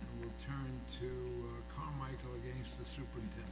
And we'll turn to Carmichael against the superintendent.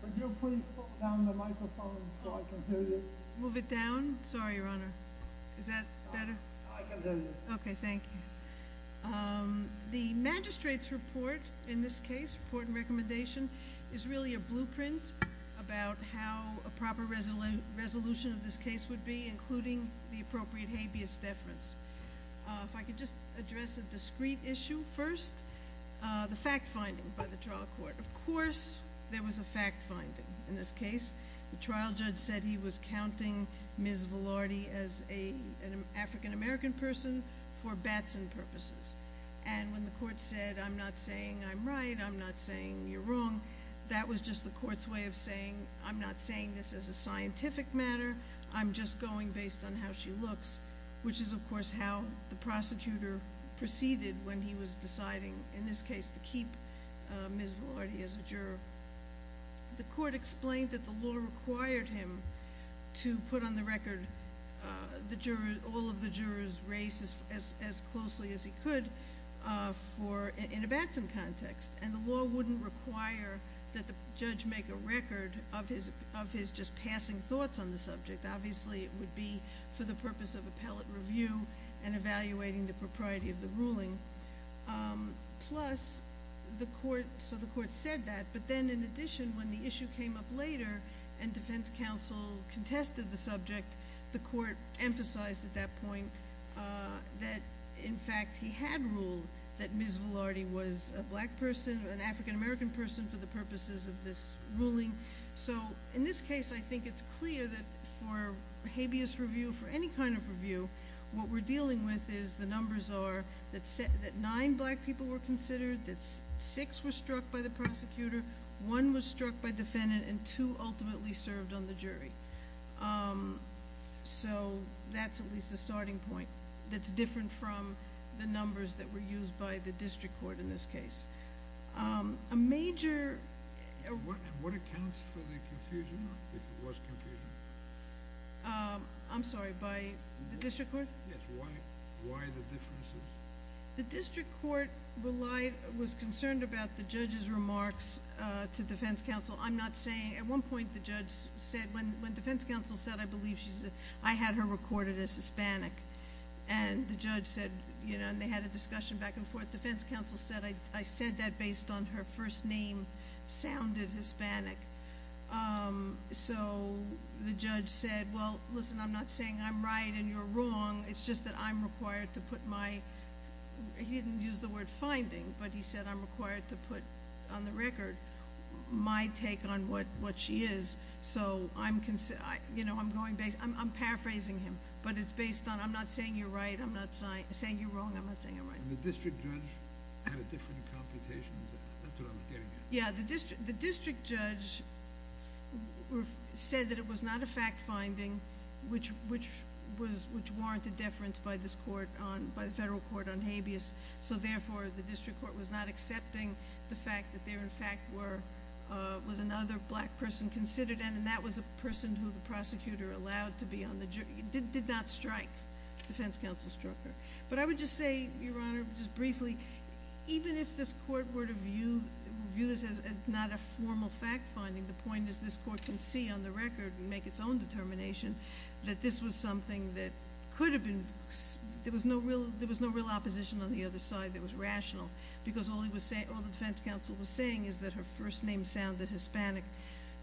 Can you please put down the microphone so I can hear you? Move it down? Sorry, Your Honor. Is that better? I can hear you. Okay, thank you. The magistrate's report in this case, report and recommendation, is really a blueprint about how a proper resolution of this case would be, including the appropriate habeas deference. If I could just address a discrete issue first. The fact-finding by the trial court. Of course there was a fact-finding in this case. The trial judge said he was counting Ms. Velarde as an African-American person for Batson purposes. And when the court said, I'm not saying I'm right, I'm not saying you're wrong, that was just the court's way of saying, I'm not saying this as a scientific matter, I'm just going based on how she looks, which is of course how the prosecutor proceeded when he was deciding, in this case, to keep Ms. Velarde as a juror. The court explained that the law required him to put on the record all of the juror's race as closely as he could in a Batson context. And the law wouldn't require that the judge make a record of his just passing thoughts on the subject. Obviously it would be for the purpose of appellate review and evaluating the propriety of the ruling. So the court said that, but then in addition, when the issue came up later and defense counsel contested the subject, the court emphasized at that point that in fact he had ruled that Ms. Velarde was a black person, an African-American person for the purposes of this ruling. So in this case I think it's clear that for habeas review, for any kind of review, what we're dealing with is the numbers are that nine black people were considered, that six were struck by the prosecutor, one was struck by defendant, and two ultimately served on the jury. So that's at least a starting point that's different from the numbers that were used by the district court in this case. A major... What accounts for the confusion, if it was confusion? I'm sorry, by the district court? Yes, why the differences? The district court relied, was concerned about the judge's remarks to defense counsel. I'm not saying, at one point the judge said, when defense counsel said, I believe she said, I had her recorded as Hispanic, and the judge said, you know, and they had a discussion back and forth, defense counsel said, I said that based on her first name sounded Hispanic. So the judge said, well, listen, I'm not saying I'm right and you're wrong, it's just that I'm required to put my, he didn't use the word finding, but he said I'm required to put on the record my take on what she is. So I'm going, I'm paraphrasing him, but it's based on, I'm not saying you're right, I'm not saying you're wrong, I'm not saying you're right. And the district judge had a different computation, is that what I'm getting at? Yeah, the district judge said that it was not a fact finding, which warranted deference by this court on, by the federal court on habeas, so therefore the district court was not accepting the fact that there in fact were, was another black person considered, and that was a person who the prosecutor allowed to be on the, did not strike, defense counsel struck her. But I would just say, Your Honor, just briefly, even if this court were to view this as not a formal fact finding, the point is this court can see on the record and make its own determination that this was something that could have been, there was no real opposition on the other side that was rational, because all he was saying, all the defense counsel was saying is that her first name sounded Hispanic.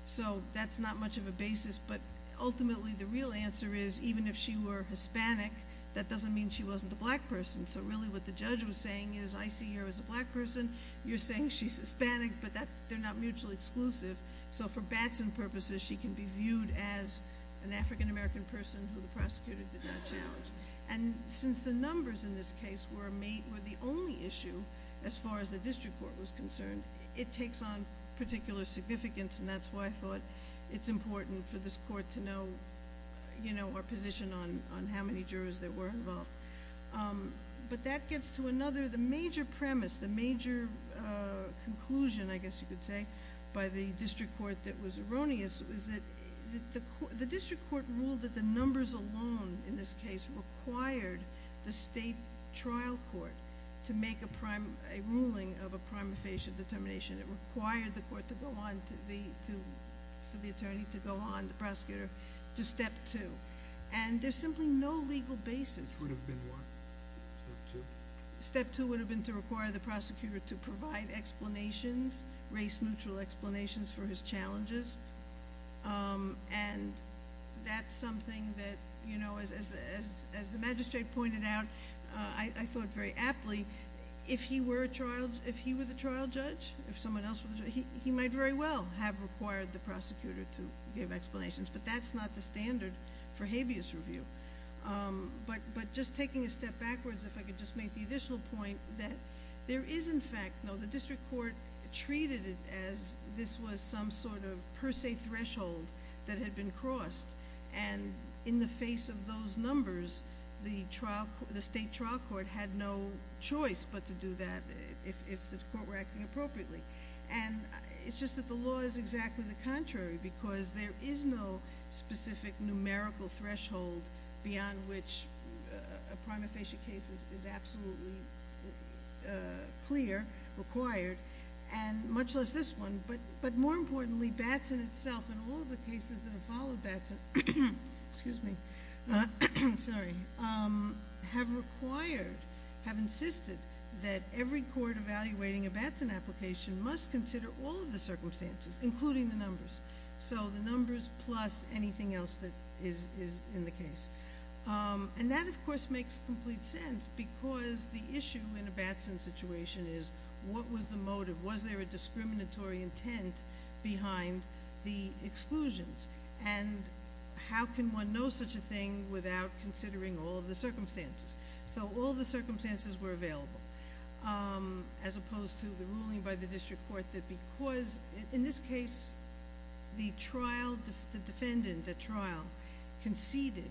So that's not much of a basis, but ultimately the real answer is, even if she were Hispanic, that doesn't mean she wasn't a black person. So really what the judge was saying is, I see her as a black person. You're saying she's Hispanic, but they're not mutually exclusive. So for Batson purposes, she can be viewed as an African American person who the prosecutor did not challenge. And since the numbers in this case were the only issue, as far as the district court was concerned, it takes on particular significance, and that's why I thought it's important for this court to know our position on how many jurors there were involved. But that gets to another, the major premise, the major conclusion, I guess you could say, by the district court that was erroneous, is that the district court ruled that the numbers alone in this case required the state trial court to make a ruling of a prima facie determination. It required the court for the attorney to go on, the prosecutor, to step two. And there's simply no legal basis. It could have been what? Step two? Step two would have been to require the prosecutor to provide explanations, race-neutral explanations for his challenges. And that's something that, as the magistrate pointed out, I thought very aptly, if he were the trial judge, if someone else were the judge, he might very well have required the prosecutor to give explanations. But that's not the standard for habeas review. But just taking a step backwards, if I could just make the additional point that there is, in fact, no, the district court treated it as this was some sort of per se threshold that had been crossed. And in the face of those numbers, the state trial court had no choice but to do that, if the court were acting appropriately. And it's just that the law is exactly the contrary, because there is no specific numerical threshold beyond which a prima facie case is absolutely clear, required, and much less this one. But more importantly, Batson itself and all of the cases that have followed Batson have required, have insisted that every court evaluating a Batson application must consider all of the circumstances, including the numbers. So the numbers plus anything else that is in the case. And that, of course, makes complete sense, because the issue in a Batson situation is what was the motive? Was there a discriminatory intent behind the exclusions? And how can one know such a thing without considering all of the circumstances? So all the circumstances were available, as opposed to the ruling by the district court that because, in this case, the trial, the defendant at trial, conceded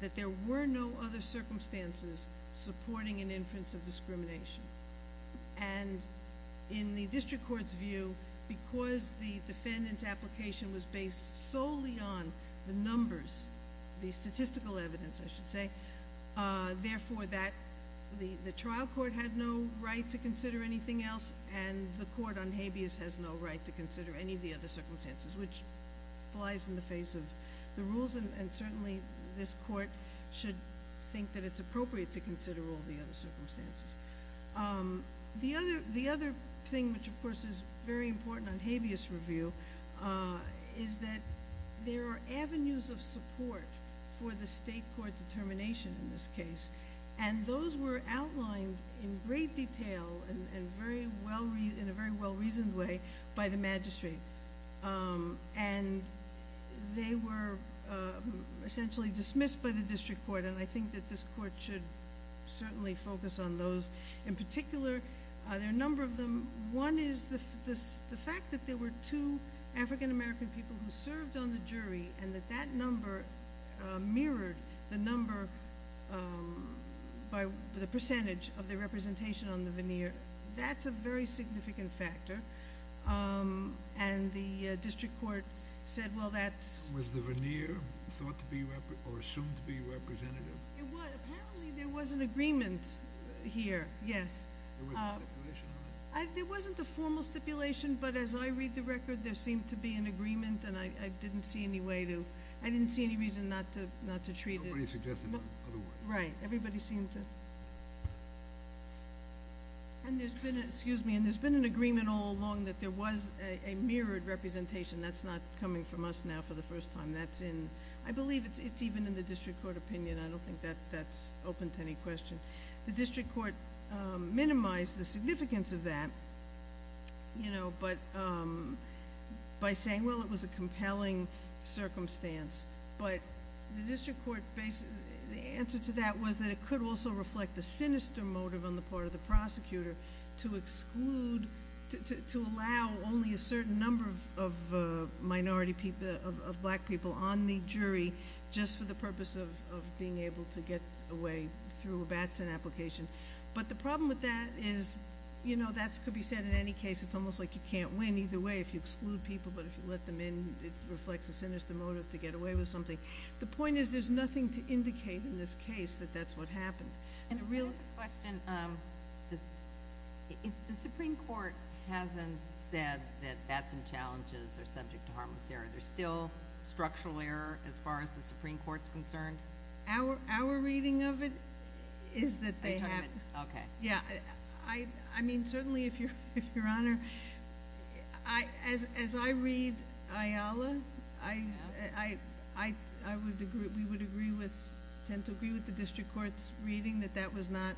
that there were no other circumstances supporting an inference of discrimination. And in the district court's view, because the defendant's application was based solely on the numbers, the statistical evidence, I should say, therefore the trial court had no right to consider anything else, and the court on habeas has no right to consider any of the other circumstances, which flies in the face of the rules. And certainly this court should think that it's appropriate to consider all the other circumstances. The other thing, which, of course, is very important on habeas review, is that there are avenues of support for the state court determination in this case, and those were outlined in great detail and in a very well-reasoned way by the magistrate. And they were essentially dismissed by the district court, and I think that this court should certainly focus on those. In particular, there are a number of them. One is the fact that there were two African American people who served on the jury, and that that number mirrored the number by the percentage of the representation on the veneer. That's a very significant factor. And the district court said, well, that's... Was the veneer thought to be or assumed to be representative? It was. Apparently there was an agreement here, yes. There wasn't a stipulation on it? There wasn't a formal stipulation, but as I read the record, there seemed to be an agreement, and I didn't see any way to, I didn't see any reason not to treat it. Nobody suggested otherwise. Right. Everybody seemed to. And there's been an agreement all along that there was a mirrored representation. That's not coming from us now for the first time. I believe it's even in the district court opinion. I don't think that's open to any question. The district court minimized the significance of that by saying, well, it was a compelling circumstance. But the district court, the answer to that was that it could also reflect the sinister motive on the part of the prosecutor to exclude, to allow only a certain number of minority people, of black people on the jury just for the purpose of being able to get away through a Batson application. But the problem with that is, you know, that could be said in any case. It's almost like you can't win either way if you exclude people, but if you let them in, it reflects a sinister motive to get away with something. The point is there's nothing to indicate in this case that that's what happened. And a real quick question. The Supreme Court hasn't said that Batson challenges are subject to harmless error. There's still structural error as far as the Supreme Court's concerned? Our reading of it is that they have. Okay. Yeah, I mean, certainly if Your Honor, as I read Ayala, I would agree, we would agree with, tend to agree with the district court's reading that that was not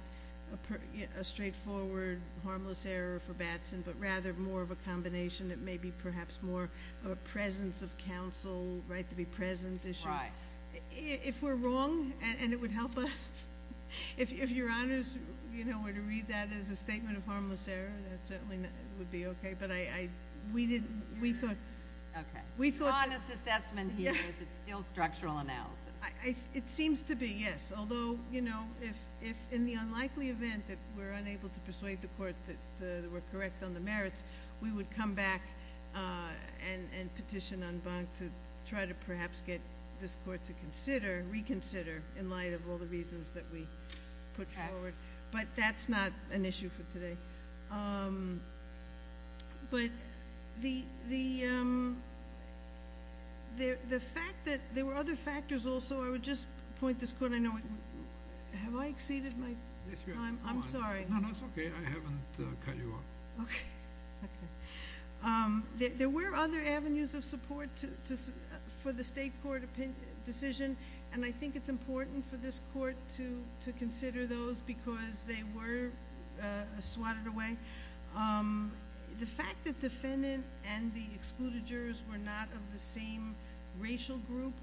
a straightforward harmless error for Batson, but rather more of a combination that may be perhaps more of a presence of counsel, right, to be present issue. Right. If we're wrong and it would help us, if Your Honors, you know, were to read that as a statement of harmless error, that certainly would be okay. But I, we didn't, we thought. Okay. We thought. Honest assessment here is it's still structural analysis. It seems to be, yes. Although, you know, if in the unlikely event that we're unable to persuade the court that we're correct on the merits, we would come back and petition on Bonk to try to perhaps get this court to consider, reconsider in light of all the reasons that we put forward. But that's not an issue for today. But the fact that there were other factors also, I would just point this court, I know, have I exceeded my time? I'm sorry. No, no, it's okay. I haven't cut you off. Okay. Okay. There were other avenues of support for the state court decision, and I think it's important for this court to consider those because they were swatted away. The fact that defendant and the excluded jurors were not of the same racial group,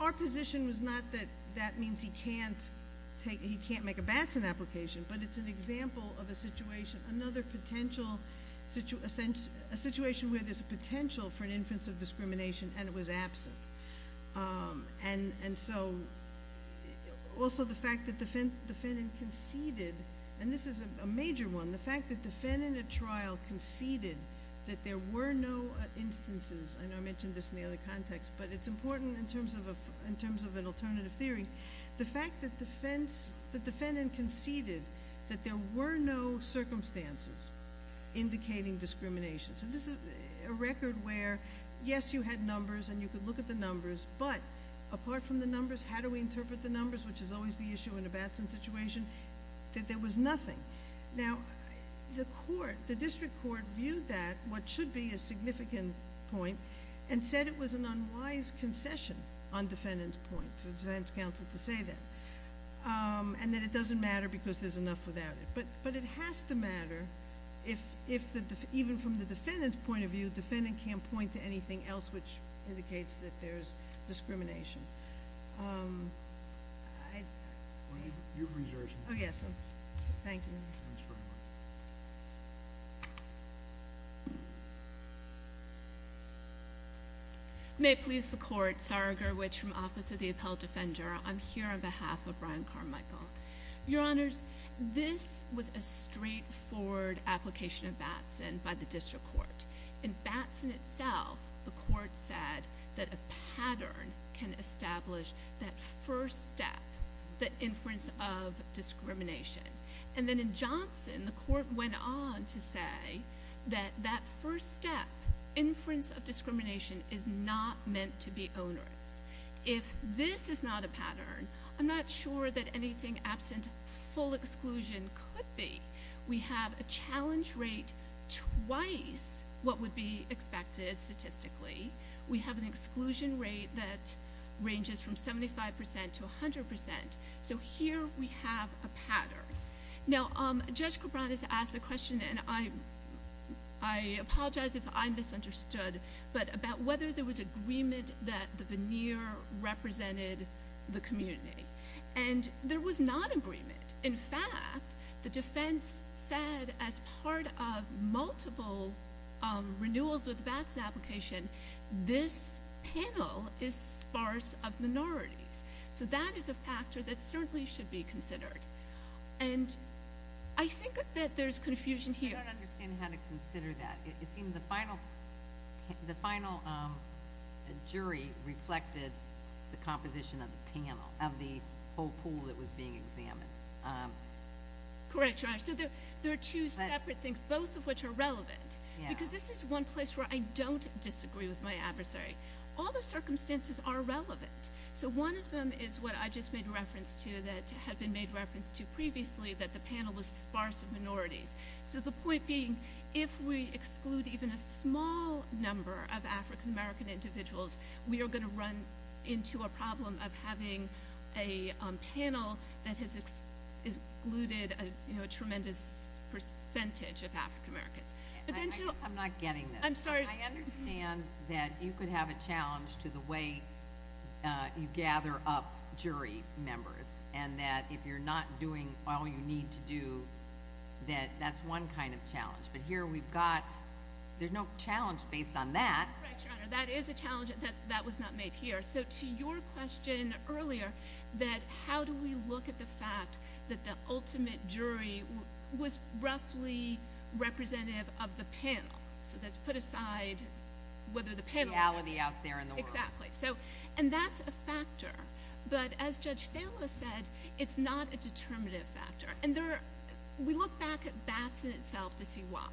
our position was not that that means he can't take, he can't make a Batson application, but it's an example of a situation, another potential, a situation where there's a potential for an inference of discrimination and it was absent. And so also the fact that the defendant conceded, and this is a major one, the fact that the defendant at trial conceded that there were no instances, and I mentioned this in the other context, but it's important in terms of an alternative theory, the fact that the defendant conceded that there were no circumstances indicating discrimination. So this is a record where, yes, you had numbers and you could look at the numbers, but apart from the numbers, how do we interpret the numbers, which is always the issue in a Batson situation, that there was nothing. Now, the district court viewed that, what should be a significant point, and said it was an unwise concession on defendant's point, for the defense counsel to say that, and that it doesn't matter because there's enough without it. But it has to matter if, even from the defendant's point of view, the defendant can't point to anything else which indicates that there's discrimination. Your reservation. Oh, yes. Thank you. Thanks very much. May it please the court, Sarah Gerwitch from Office of the Appellate Defender. I'm here on behalf of Brian Carmichael. Your Honors, this was a straightforward application of Batson by the district court. In Batson itself, the court said that a pattern can establish that first step, the inference of discrimination. And then in Johnson, the court went on to say that that first step, inference of discrimination, is not meant to be onerous. If this is not a pattern, I'm not sure that anything absent full exclusion could be. We have a challenge rate twice what would be expected statistically. We have an exclusion rate that ranges from 75% to 100%. So here we have a pattern. Now, Judge Cabran has asked a question, and I apologize if I misunderstood, but about whether there was agreement that the veneer represented the community. And there was not agreement. In fact, the defense said as part of multiple renewals of the Batson application, this panel is sparse of minorities. So that is a factor that certainly should be considered. And I think that there's confusion here. I don't understand how to consider that. It seems the final jury reflected the composition of the panel, of the whole pool that was being examined. Correct, Your Honor. So there are two separate things, both of which are relevant. Because this is one place where I don't disagree with my adversary. All the circumstances are relevant. So one of them is what I just made reference to that had been made reference to previously, that the panel was sparse of minorities. So the point being, if we exclude even a small number of African-American individuals, we are going to run into a problem of having a panel that has excluded a tremendous percentage of African-Americans. I'm not getting this. I'm sorry. I understand that you could have a challenge to the way you gather up jury members, and that if you're not doing all you need to do, that that's one kind of challenge. But here we've got – there's no challenge based on that. Correct, Your Honor. That is a challenge that was not made here. So to your question earlier, that how do we look at the fact that the ultimate jury was roughly representative of the panel. So let's put aside whether the panel – The reality out there in the world. Exactly. And that's a factor. But as Judge Fallow said, it's not a determinative factor. And we look back at Batson itself to see why.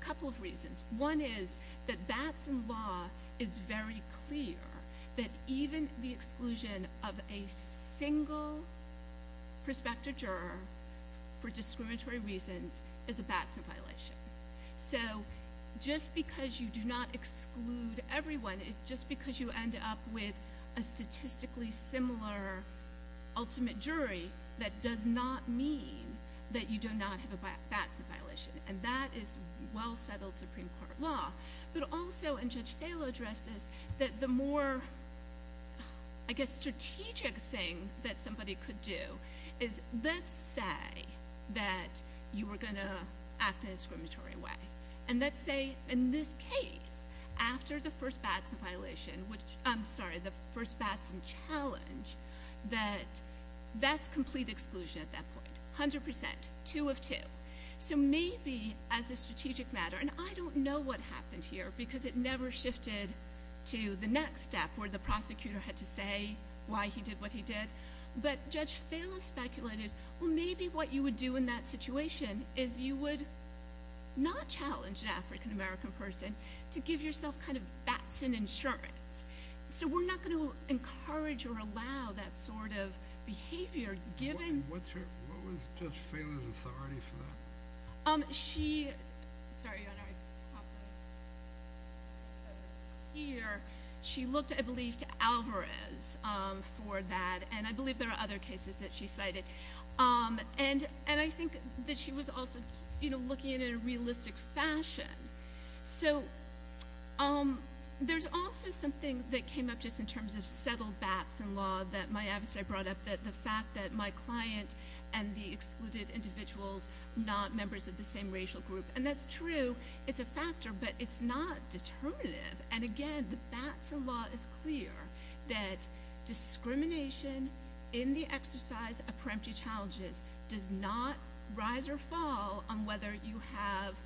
A couple of reasons. One is that Batson law is very clear that even the exclusion of a single prospective juror for discriminatory reasons is a Batson violation. So just because you do not exclude everyone, just because you end up with a statistically similar ultimate jury, that does not mean that you do not have a Batson violation. And that is well-settled Supreme Court law. But also, and Judge Fallow addresses, that the more, I guess, strategic thing that somebody could do is let's say that you were going to act in a discriminatory way. And let's say in this case, after the first Batson violation – I'm sorry, the first Batson challenge, that that's complete exclusion at that point. A hundred percent. Two of two. So maybe as a strategic matter – and I don't know what happened here because it never shifted to the next step where the prosecutor had to say why he did what he did. But Judge Fallow speculated, well, maybe what you would do in that situation is you would not challenge an African-American person to give yourself kind of Batson insurance. So we're not going to encourage or allow that sort of behavior given – She – sorry, Your Honor. She looked, I believe, to Alvarez for that. And I believe there are other cases that she cited. And I think that she was also looking at it in a realistic fashion. So there's also something that came up just in terms of settled Batson law that my adversary brought up, the fact that my client and the excluded individuals are not members of the same racial group. And that's true. It's a factor. But it's not determinative. And, again, the Batson law is clear that discrimination in the exercise of preemptive challenges does not rise or fall on whether you have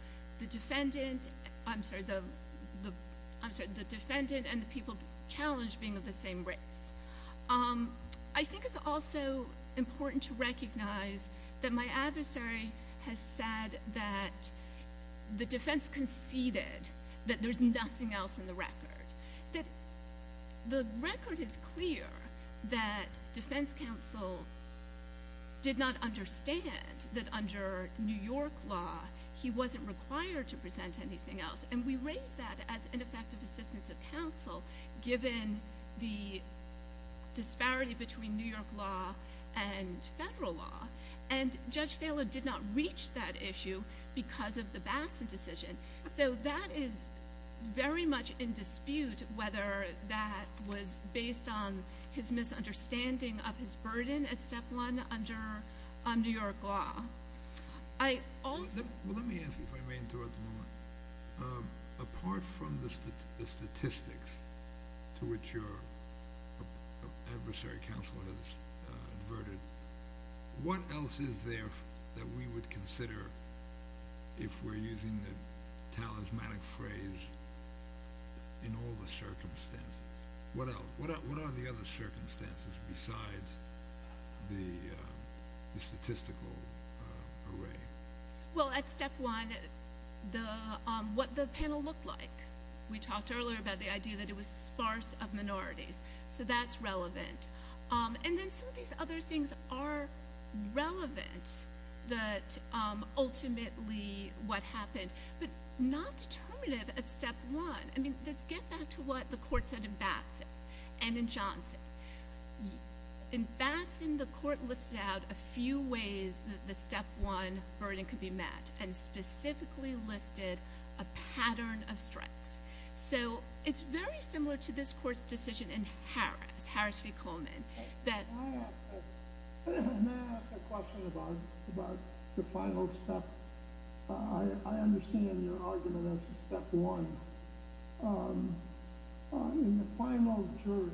the defendant – I'm sorry, the defendant and the people challenged being of the same race. I think it's also important to recognize that my adversary has said that the defense conceded that there's nothing else in the record. That the record is clear that defense counsel did not understand that under New York law, he wasn't required to present anything else. And we raised that as ineffective assistance of counsel given the disparity between New York law and federal law. And Judge Phelan did not reach that issue because of the Batson decision. So that is very much in dispute whether that was based on his misunderstanding of his burden at step one under New York law. Let me ask you if I may interrupt a moment. Apart from the statistics to which your adversary counsel has adverted, what else is there that we would consider if we're using the talismanic phrase in all the circumstances? What are the other circumstances besides the statistical array? Well, at step one, what the panel looked like. We talked earlier about the idea that it was sparse of minorities. So that's relevant. And then some of these other things are relevant that ultimately what happened. But not determinative at step one. I mean, let's get back to what the court said in Batson and in Johnson. In Batson, the court listed out a few ways that the step one burden could be met and specifically listed a pattern of strikes. So it's very similar to this court's decision in Harris, Harris v. Coleman. May I ask a question about the final step? I understand your argument as to step one. In the final jury,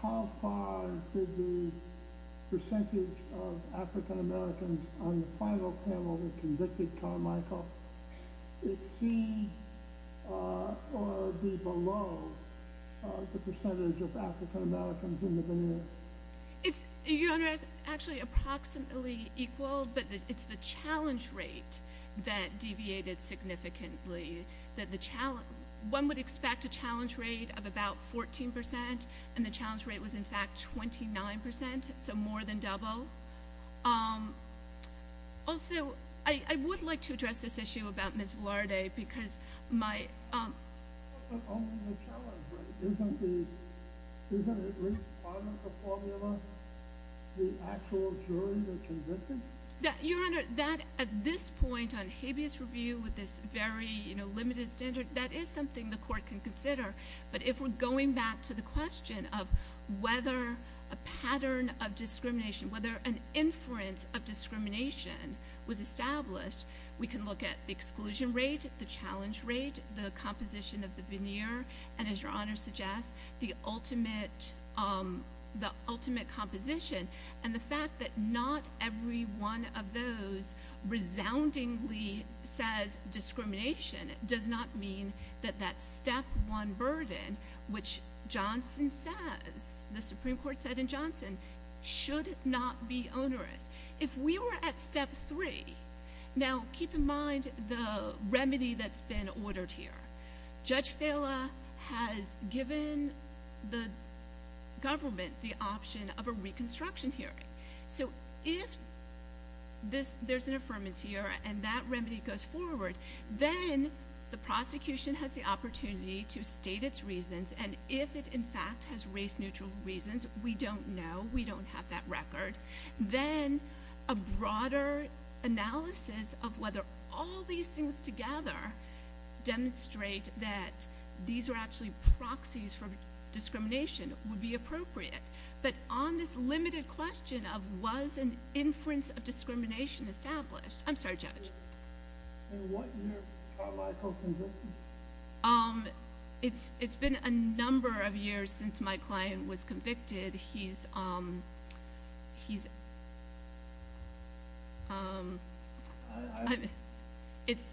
how far did the percentage of African-Americans on the final panel that convicted Carmichael exceed or be below the percentage of African-Americans in the venue? Your Honor, it's actually approximately equal, but it's the challenge rate that deviated significantly. One would expect a challenge rate of about 14%, and the challenge rate was, in fact, 29%, so more than double. Also, I would like to address this issue about Ms. Velarde because my ‑‑ Isn't at least part of the formula the actual jury that convicted? Your Honor, that at this point on habeas review with this very limited standard, that is something the court can consider. But if we're going back to the question of whether a pattern of discrimination, whether an inference of discrimination was established, we can look at the exclusion rate, the challenge rate, the composition of the veneer, and as your Honor suggests, the ultimate composition and the fact that not every one of those resoundingly says discrimination does not mean that that step one burden, which Johnson says, the Supreme Court said in Johnson, should not be onerous. If we were at step three, now keep in mind the remedy that's been ordered here. Judge Fela has given the government the option of a reconstruction hearing. So if there's an affirmance here and that remedy goes forward, then the prosecution has the opportunity to state its reasons, and if it in fact has race neutral reasons, we don't know, we don't have that record. Then a broader analysis of whether all these things together demonstrate that these are actually proxies for discrimination would be appropriate. But on this limited question of was an inference of discrimination established, I'm sorry, Judge. In what year was Carl Iacocca convicted? It's been a number of years since my client was convicted. He's, um, he's, um, it's,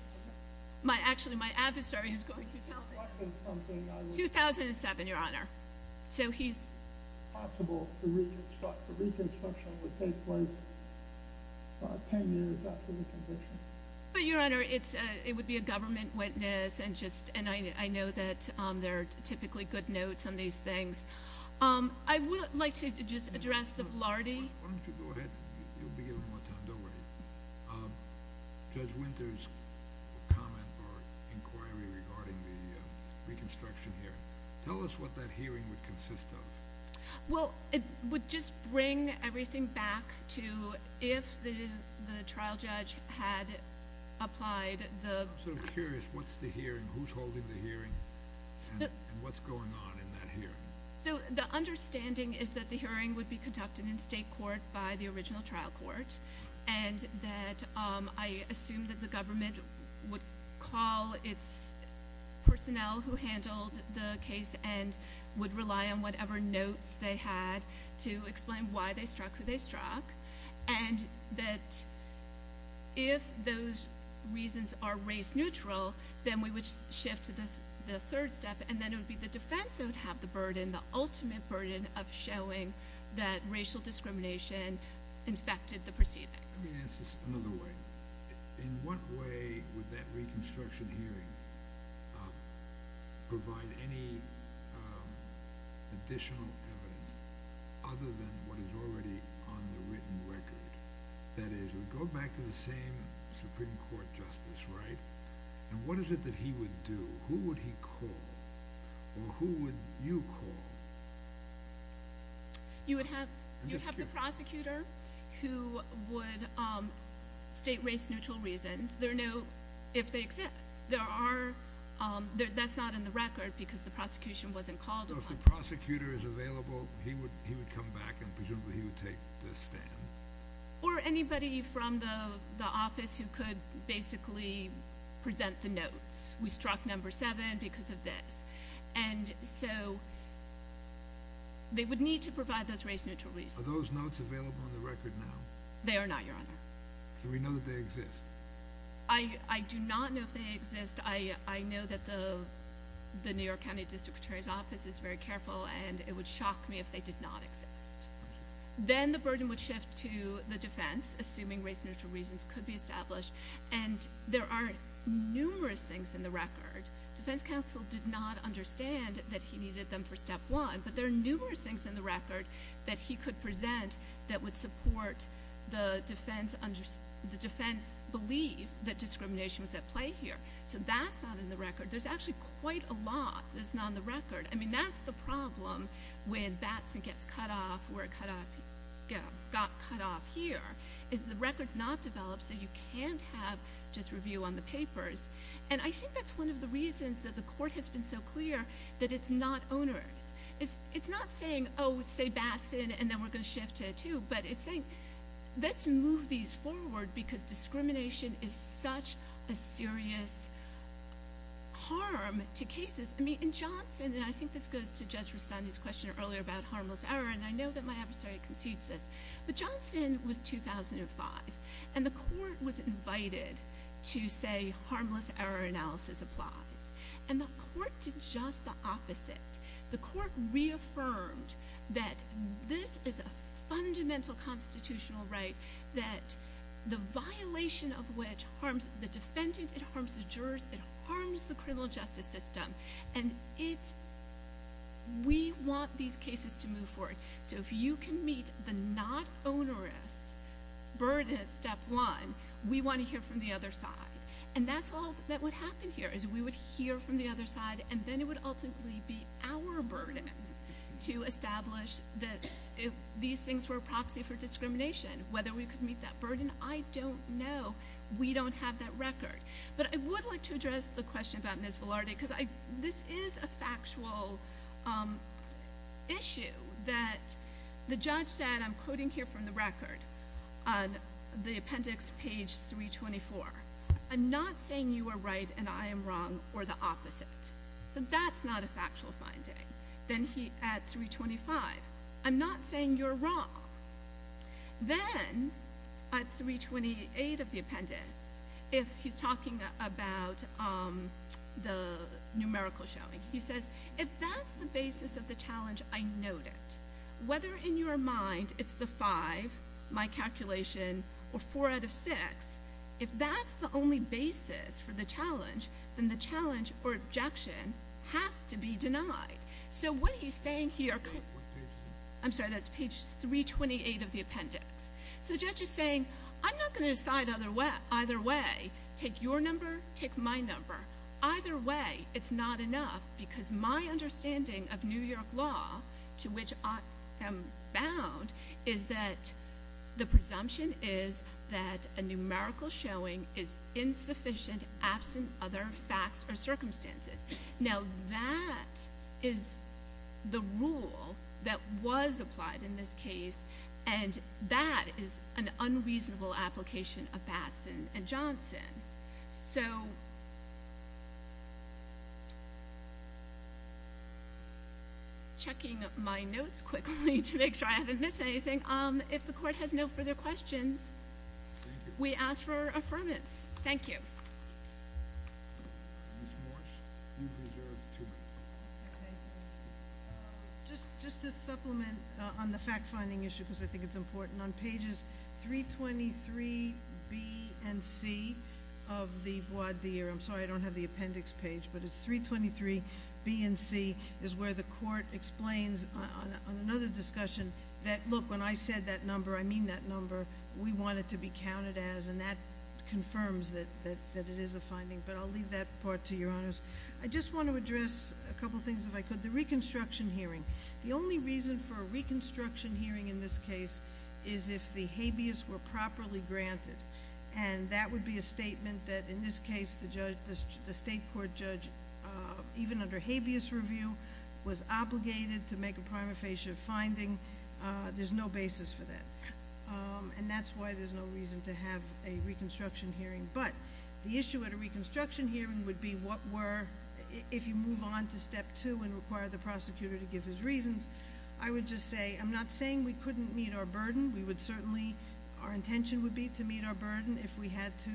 my, actually my adversary is going to tell me. In 2007, your Honor. It's possible the reconstruction would take place 10 years after the conviction. But your Honor, it would be a government witness, and I know that there are typically good notes on these things. I would like to just address the Velarde. Why don't you go ahead, you'll be given more time, don't worry. Judge Winter's comment or inquiry regarding the reconstruction hearing. Tell us what that hearing would consist of. Well, it would just bring everything back to if the trial judge had applied the I'm sort of curious, what's the hearing, who's holding the hearing, and what's going on in that hearing? So, the understanding is that the hearing would be conducted in state court by the original trial court, and that I assume that the government would call its personnel who handled the case and would rely on whatever notes they had to explain why they struck who they struck, and that if those reasons are race neutral, then we would shift to the third step, and then it would be the defense that would have the burden, the ultimate burden, of showing that racial discrimination infected the proceedings. Let me ask this another way. In what way would that reconstruction hearing provide any additional evidence other than what is already on the written record? That is, we go back to the same Supreme Court justice, right? And what is it that he would do? Who would he call, or who would you call? You would have the prosecutor who would state race neutral reasons. There are no if they exist. That's not in the record because the prosecution wasn't called. So if the prosecutor is available, he would come back and presumably he would take the stand? We struck number seven because of this. And so they would need to provide those race neutral reasons. Are those notes available on the record now? They are not, Your Honor. Do we know that they exist? I do not know if they exist. I know that the New York County District Attorney's Office is very careful, and it would shock me if they did not exist. Then the burden would shift to the defense, assuming race neutral reasons could be established, and there are numerous things in the record. Defense counsel did not understand that he needed them for step one, but there are numerous things in the record that he could present that would support the defense belief that discrimination was at play here. So that's not in the record. There's actually quite a lot that's not on the record. I mean, that's the problem when Batson gets cut off, where it got cut off here, is the record's not developed, so you can't have just review on the papers. And I think that's one of the reasons that the court has been so clear that it's not onerous. It's not saying, oh, say Batson, and then we're going to shift to two, but it's saying let's move these forward because discrimination is such a serious harm to cases. I mean, in Johnson, and I think this goes to Judge Rustani's question earlier about harmless error, and I know that my adversary concedes this, but Johnson was 2005, and the court was invited to say harmless error analysis applies. And the court did just the opposite. The court reaffirmed that this is a fundamental constitutional right, that the violation of which harms the defendant, it harms the jurors, it harms the criminal justice system, and we want these cases to move forward. So if you can meet the not onerous burden at step one, we want to hear from the other side. And that's all that would happen here is we would hear from the other side, and then it would ultimately be our burden to establish that these things were a proxy for discrimination. Whether we could meet that burden, I don't know. We don't have that record. But I would like to address the question about Ms. Velarde because this is a factual issue that the judge said, I'm quoting here from the record on the appendix page 324, I'm not saying you are right and I am wrong or the opposite. So that's not a factual finding. Then at 325, I'm not saying you're wrong. Then at 328 of the appendix, if he's talking about the numerical showing, he says, if that's the basis of the challenge, I note it. Whether in your mind it's the five, my calculation, or four out of six, if that's the only basis for the challenge, then the challenge or objection has to be denied. So what he's saying here, I'm sorry, that's page 328 of the appendix. So the judge is saying, I'm not going to decide either way. Take your number, take my number. Either way, it's not enough because my understanding of New York law, to which I am bound, is that the presumption is that a numerical showing is insufficient, absent other facts or circumstances. Now that is the rule that was applied in this case, and that is an unreasonable application of Batson and Johnson. So, checking my notes quickly to make sure I haven't missed anything, if the court has no further questions, we ask for affirmance. Thank you. Ms. Morse, you've reserved two minutes. Okay. Just to supplement on the fact-finding issue, because I think it's important, on pages 323B and C of the voir dire, I'm sorry I don't have the appendix page, but it's 323B and C is where the court explains on another discussion that, look, when I said that number, I mean that number, we want it to be counted as, and that confirms that it is a finding. But I'll leave that part to your honors. I just want to address a couple things, if I could. The reconstruction hearing. The only reason for a reconstruction hearing in this case is if the habeas were properly granted, and that would be a statement that, in this case, the state court judge, even under habeas review, was obligated to make a prima facie finding. There's no basis for that. And that's why there's no reason to have a reconstruction hearing. But the issue at a reconstruction hearing would be what were, if you move on to step two and require the prosecutor to give his reasons, I would just say I'm not saying we couldn't meet our burden. We would certainly, our intention would be to meet our burden if we had to,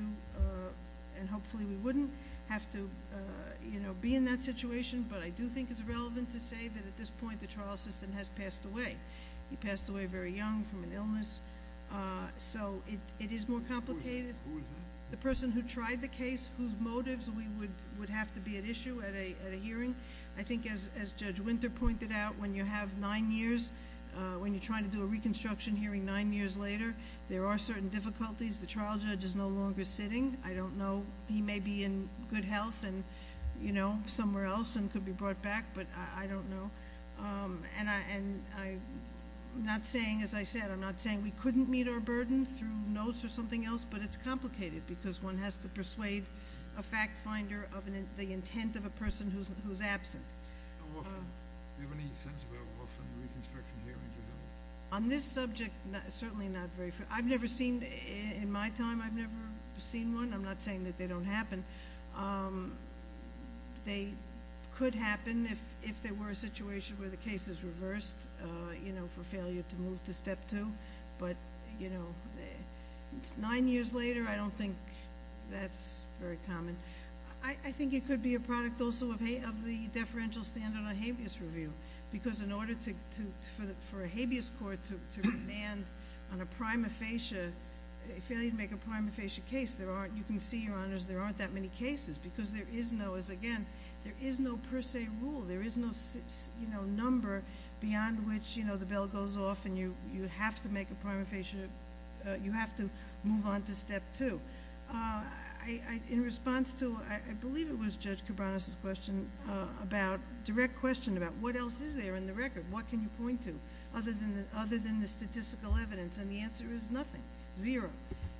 and hopefully we wouldn't have to be in that situation. But I do think it's relevant to say that at this point the trial assistant has passed away. He passed away very young from an illness. So it is more complicated. Who is that? The person who tried the case, whose motives we would have to be at issue at a hearing. I think as Judge Winter pointed out, when you have nine years, when you're trying to do a reconstruction hearing nine years later, there are certain difficulties. The trial judge is no longer sitting. I don't know. He may be in good health and somewhere else and could be brought back, but I don't know. And I'm not saying, as I said, I'm not saying we couldn't meet our burden through notes or something else, but it's complicated because one has to persuade a fact finder of the intent of a person who's absent. How often? Do you have any sense of how often reconstruction hearings are held? On this subject, certainly not very. I've never seen, in my time, I've never seen one. I'm not saying that they don't happen. They could happen if there were a situation where the case is reversed, you know, for failure to move to step two. But, you know, nine years later, I don't think that's very common. I think it could be a product also of the deferential standard on habeas review because in order for a habeas court to demand on a prima facie, failure to make a prima facie case, there aren't, you can see, Your Honors, there aren't that many cases because there is no, as again, there is no per se rule. There is no number beyond which, you know, the bell goes off and you have to make a prima facie, you have to move on to step two. In response to, I believe it was Judge Cabranes' question about, direct question about what else is there in the record? What can you point to other than the statistical evidence? And the answer is nothing, zero.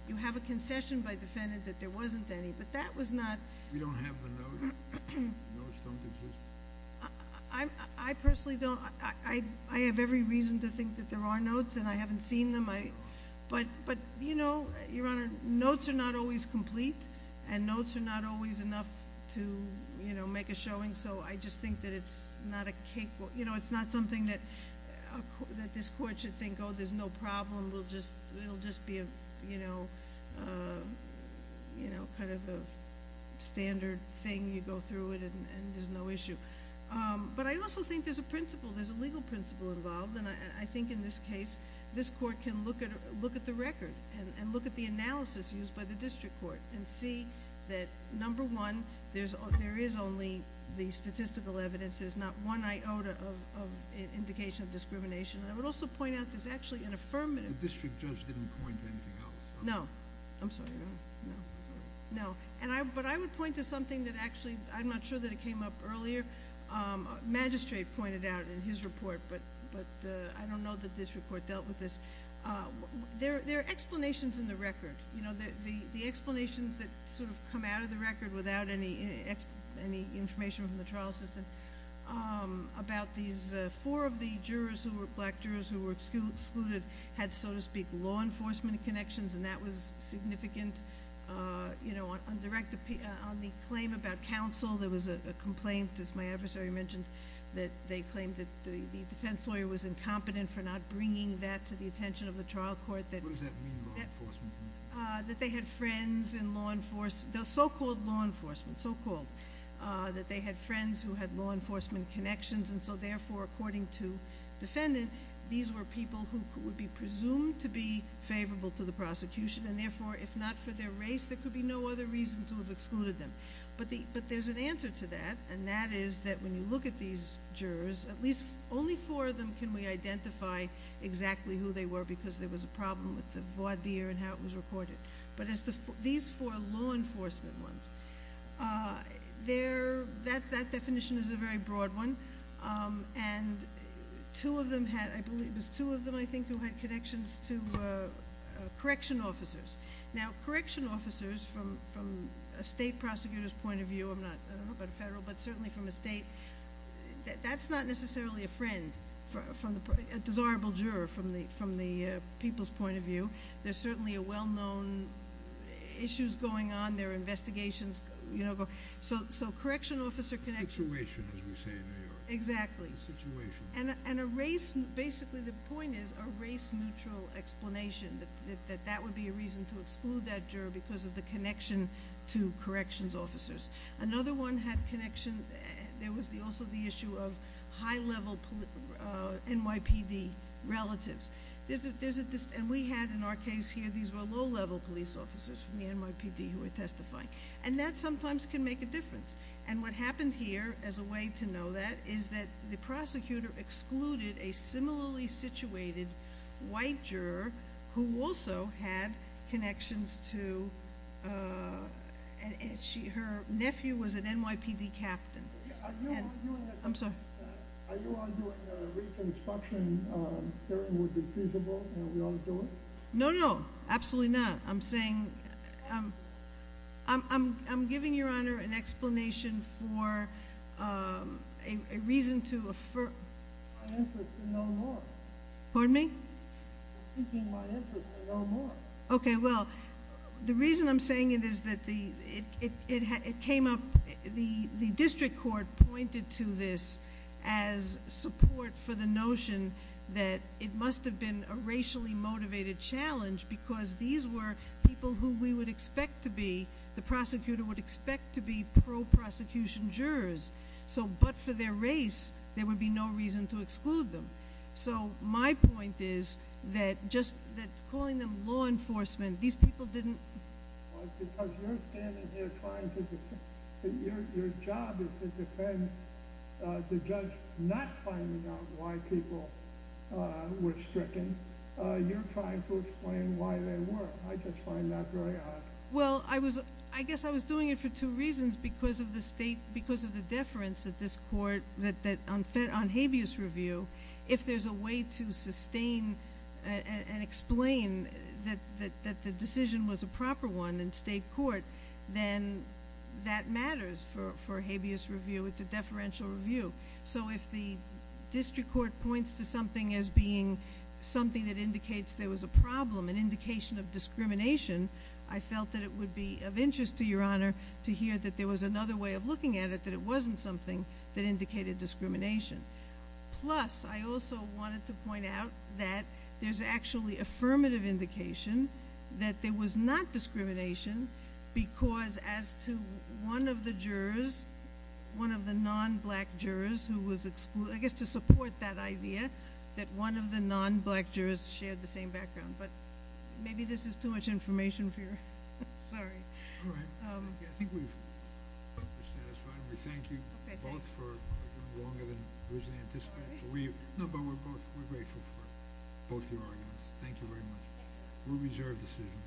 You have a concession by defendant that there wasn't any, but that was not. We don't have the notes. The notes don't exist. I personally don't. I have every reason to think that there are notes and I haven't seen them. But, you know, Your Honor, notes are not always complete and notes are not always enough to, you know, make a showing. So I just think that it's not a capable, you know, it's not something that this court should think, oh, there's no problem, it will just be, you know, kind of a standard thing, you go through it and there's no issue. But I also think there's a principle, there's a legal principle involved, and I think in this case this court can look at the record and look at the analysis used by the district court and see that, number one, there is only the statistical evidence, there's not one iota of indication of discrimination. I would also point out there's actually an affirmative. The district judge didn't point to anything else. No. I'm sorry, no. No. No. But I would point to something that actually, I'm not sure that it came up earlier, magistrate pointed out in his report, but I don't know that this report dealt with this. There are explanations in the record, you know, the explanations that sort of come out of the record without any information from the trial assistant about these four of the jurors who were black jurors who were excluded had, so to speak, law enforcement connections, and that was significant. You know, on the claim about counsel there was a complaint, as my adversary mentioned, that they claimed that the defense lawyer was incompetent for not bringing that to the attention of the trial court. What does that mean, law enforcement? That they had friends in law enforcement, so-called law enforcement, so-called, that they had friends who had law enforcement connections, and so, therefore, according to defendant, these were people who would be presumed to be favorable to the prosecution, and, therefore, if not for their race, there could be no other reason to have excluded them. But there's an answer to that, and that is that when you look at these jurors, at least only four of them can we identify exactly who they were because there was a problem with the voir dire and how it was recorded. But these four law enforcement ones, that definition is a very broad one, and two of them had, I believe it was two of them, I think, who had connections to correction officers. Now, correction officers, from a state prosecutor's point of view, I don't know about a federal, but certainly from a state, that's not necessarily a friend, a desirable juror from the people's point of view. There's certainly a well-known, issues going on, there are investigations, so correction officer connections- A situation, as we say in New York. Exactly. A situation. And a race, basically the point is, a race-neutral explanation, that that would be a reason to exclude that juror because of the connection to corrections officers. Another one had connection, there was also the issue of high-level NYPD relatives. And we had, in our case here, these were low-level police officers from the NYPD who were testifying. And that sometimes can make a difference. And what happened here, as a way to know that, is that the prosecutor excluded a similarly situated white juror who also had connections to, her nephew was an NYPD captain. I'm sorry. Are you arguing that a reconstruction hearing would be feasible, and we ought to do it? No, no, absolutely not. I'm saying, I'm giving your honor an explanation for a reason to affirm- My interest is no more. Pardon me? Seeking my interest is no more. Okay, well, the reason I'm saying it is that it came up, the district court pointed to this as support for the notion that it must have been a racially motivated challenge because these were people who we would expect to be, the prosecutor would expect to be pro-prosecution jurors. So, but for their race, there would be no reason to exclude them. So, my point is that calling them law enforcement, these people didn't- Because you're standing here trying to defend- Your job is to defend the judge not finding out why people were stricken. You're trying to explain why they were. I just find that very odd. Well, I guess I was doing it for two reasons. Because of the state, because of the deference that this court, that on habeas review, if there's a way to sustain and explain that the decision was a proper one in state court, then that matters for habeas review. It's a deferential review. So, if the district court points to something as being something that indicates there was a problem, an indication of discrimination, I felt that it would be of interest to your honor to hear that there was another way of looking at it that it wasn't something that indicated discrimination. Plus, I also wanted to point out that there's actually affirmative indication that there was not discrimination because as to one of the jurors, one of the non-black jurors who was excluded, I guess to support that idea that one of the non-black jurors shared the same background. But maybe this is too much information for you. Sorry. All right. I think we've satisfied. We thank you both for longer than was anticipated. No, but we're both grateful for both your arguments. Thank you very much. We'll reserve the decision.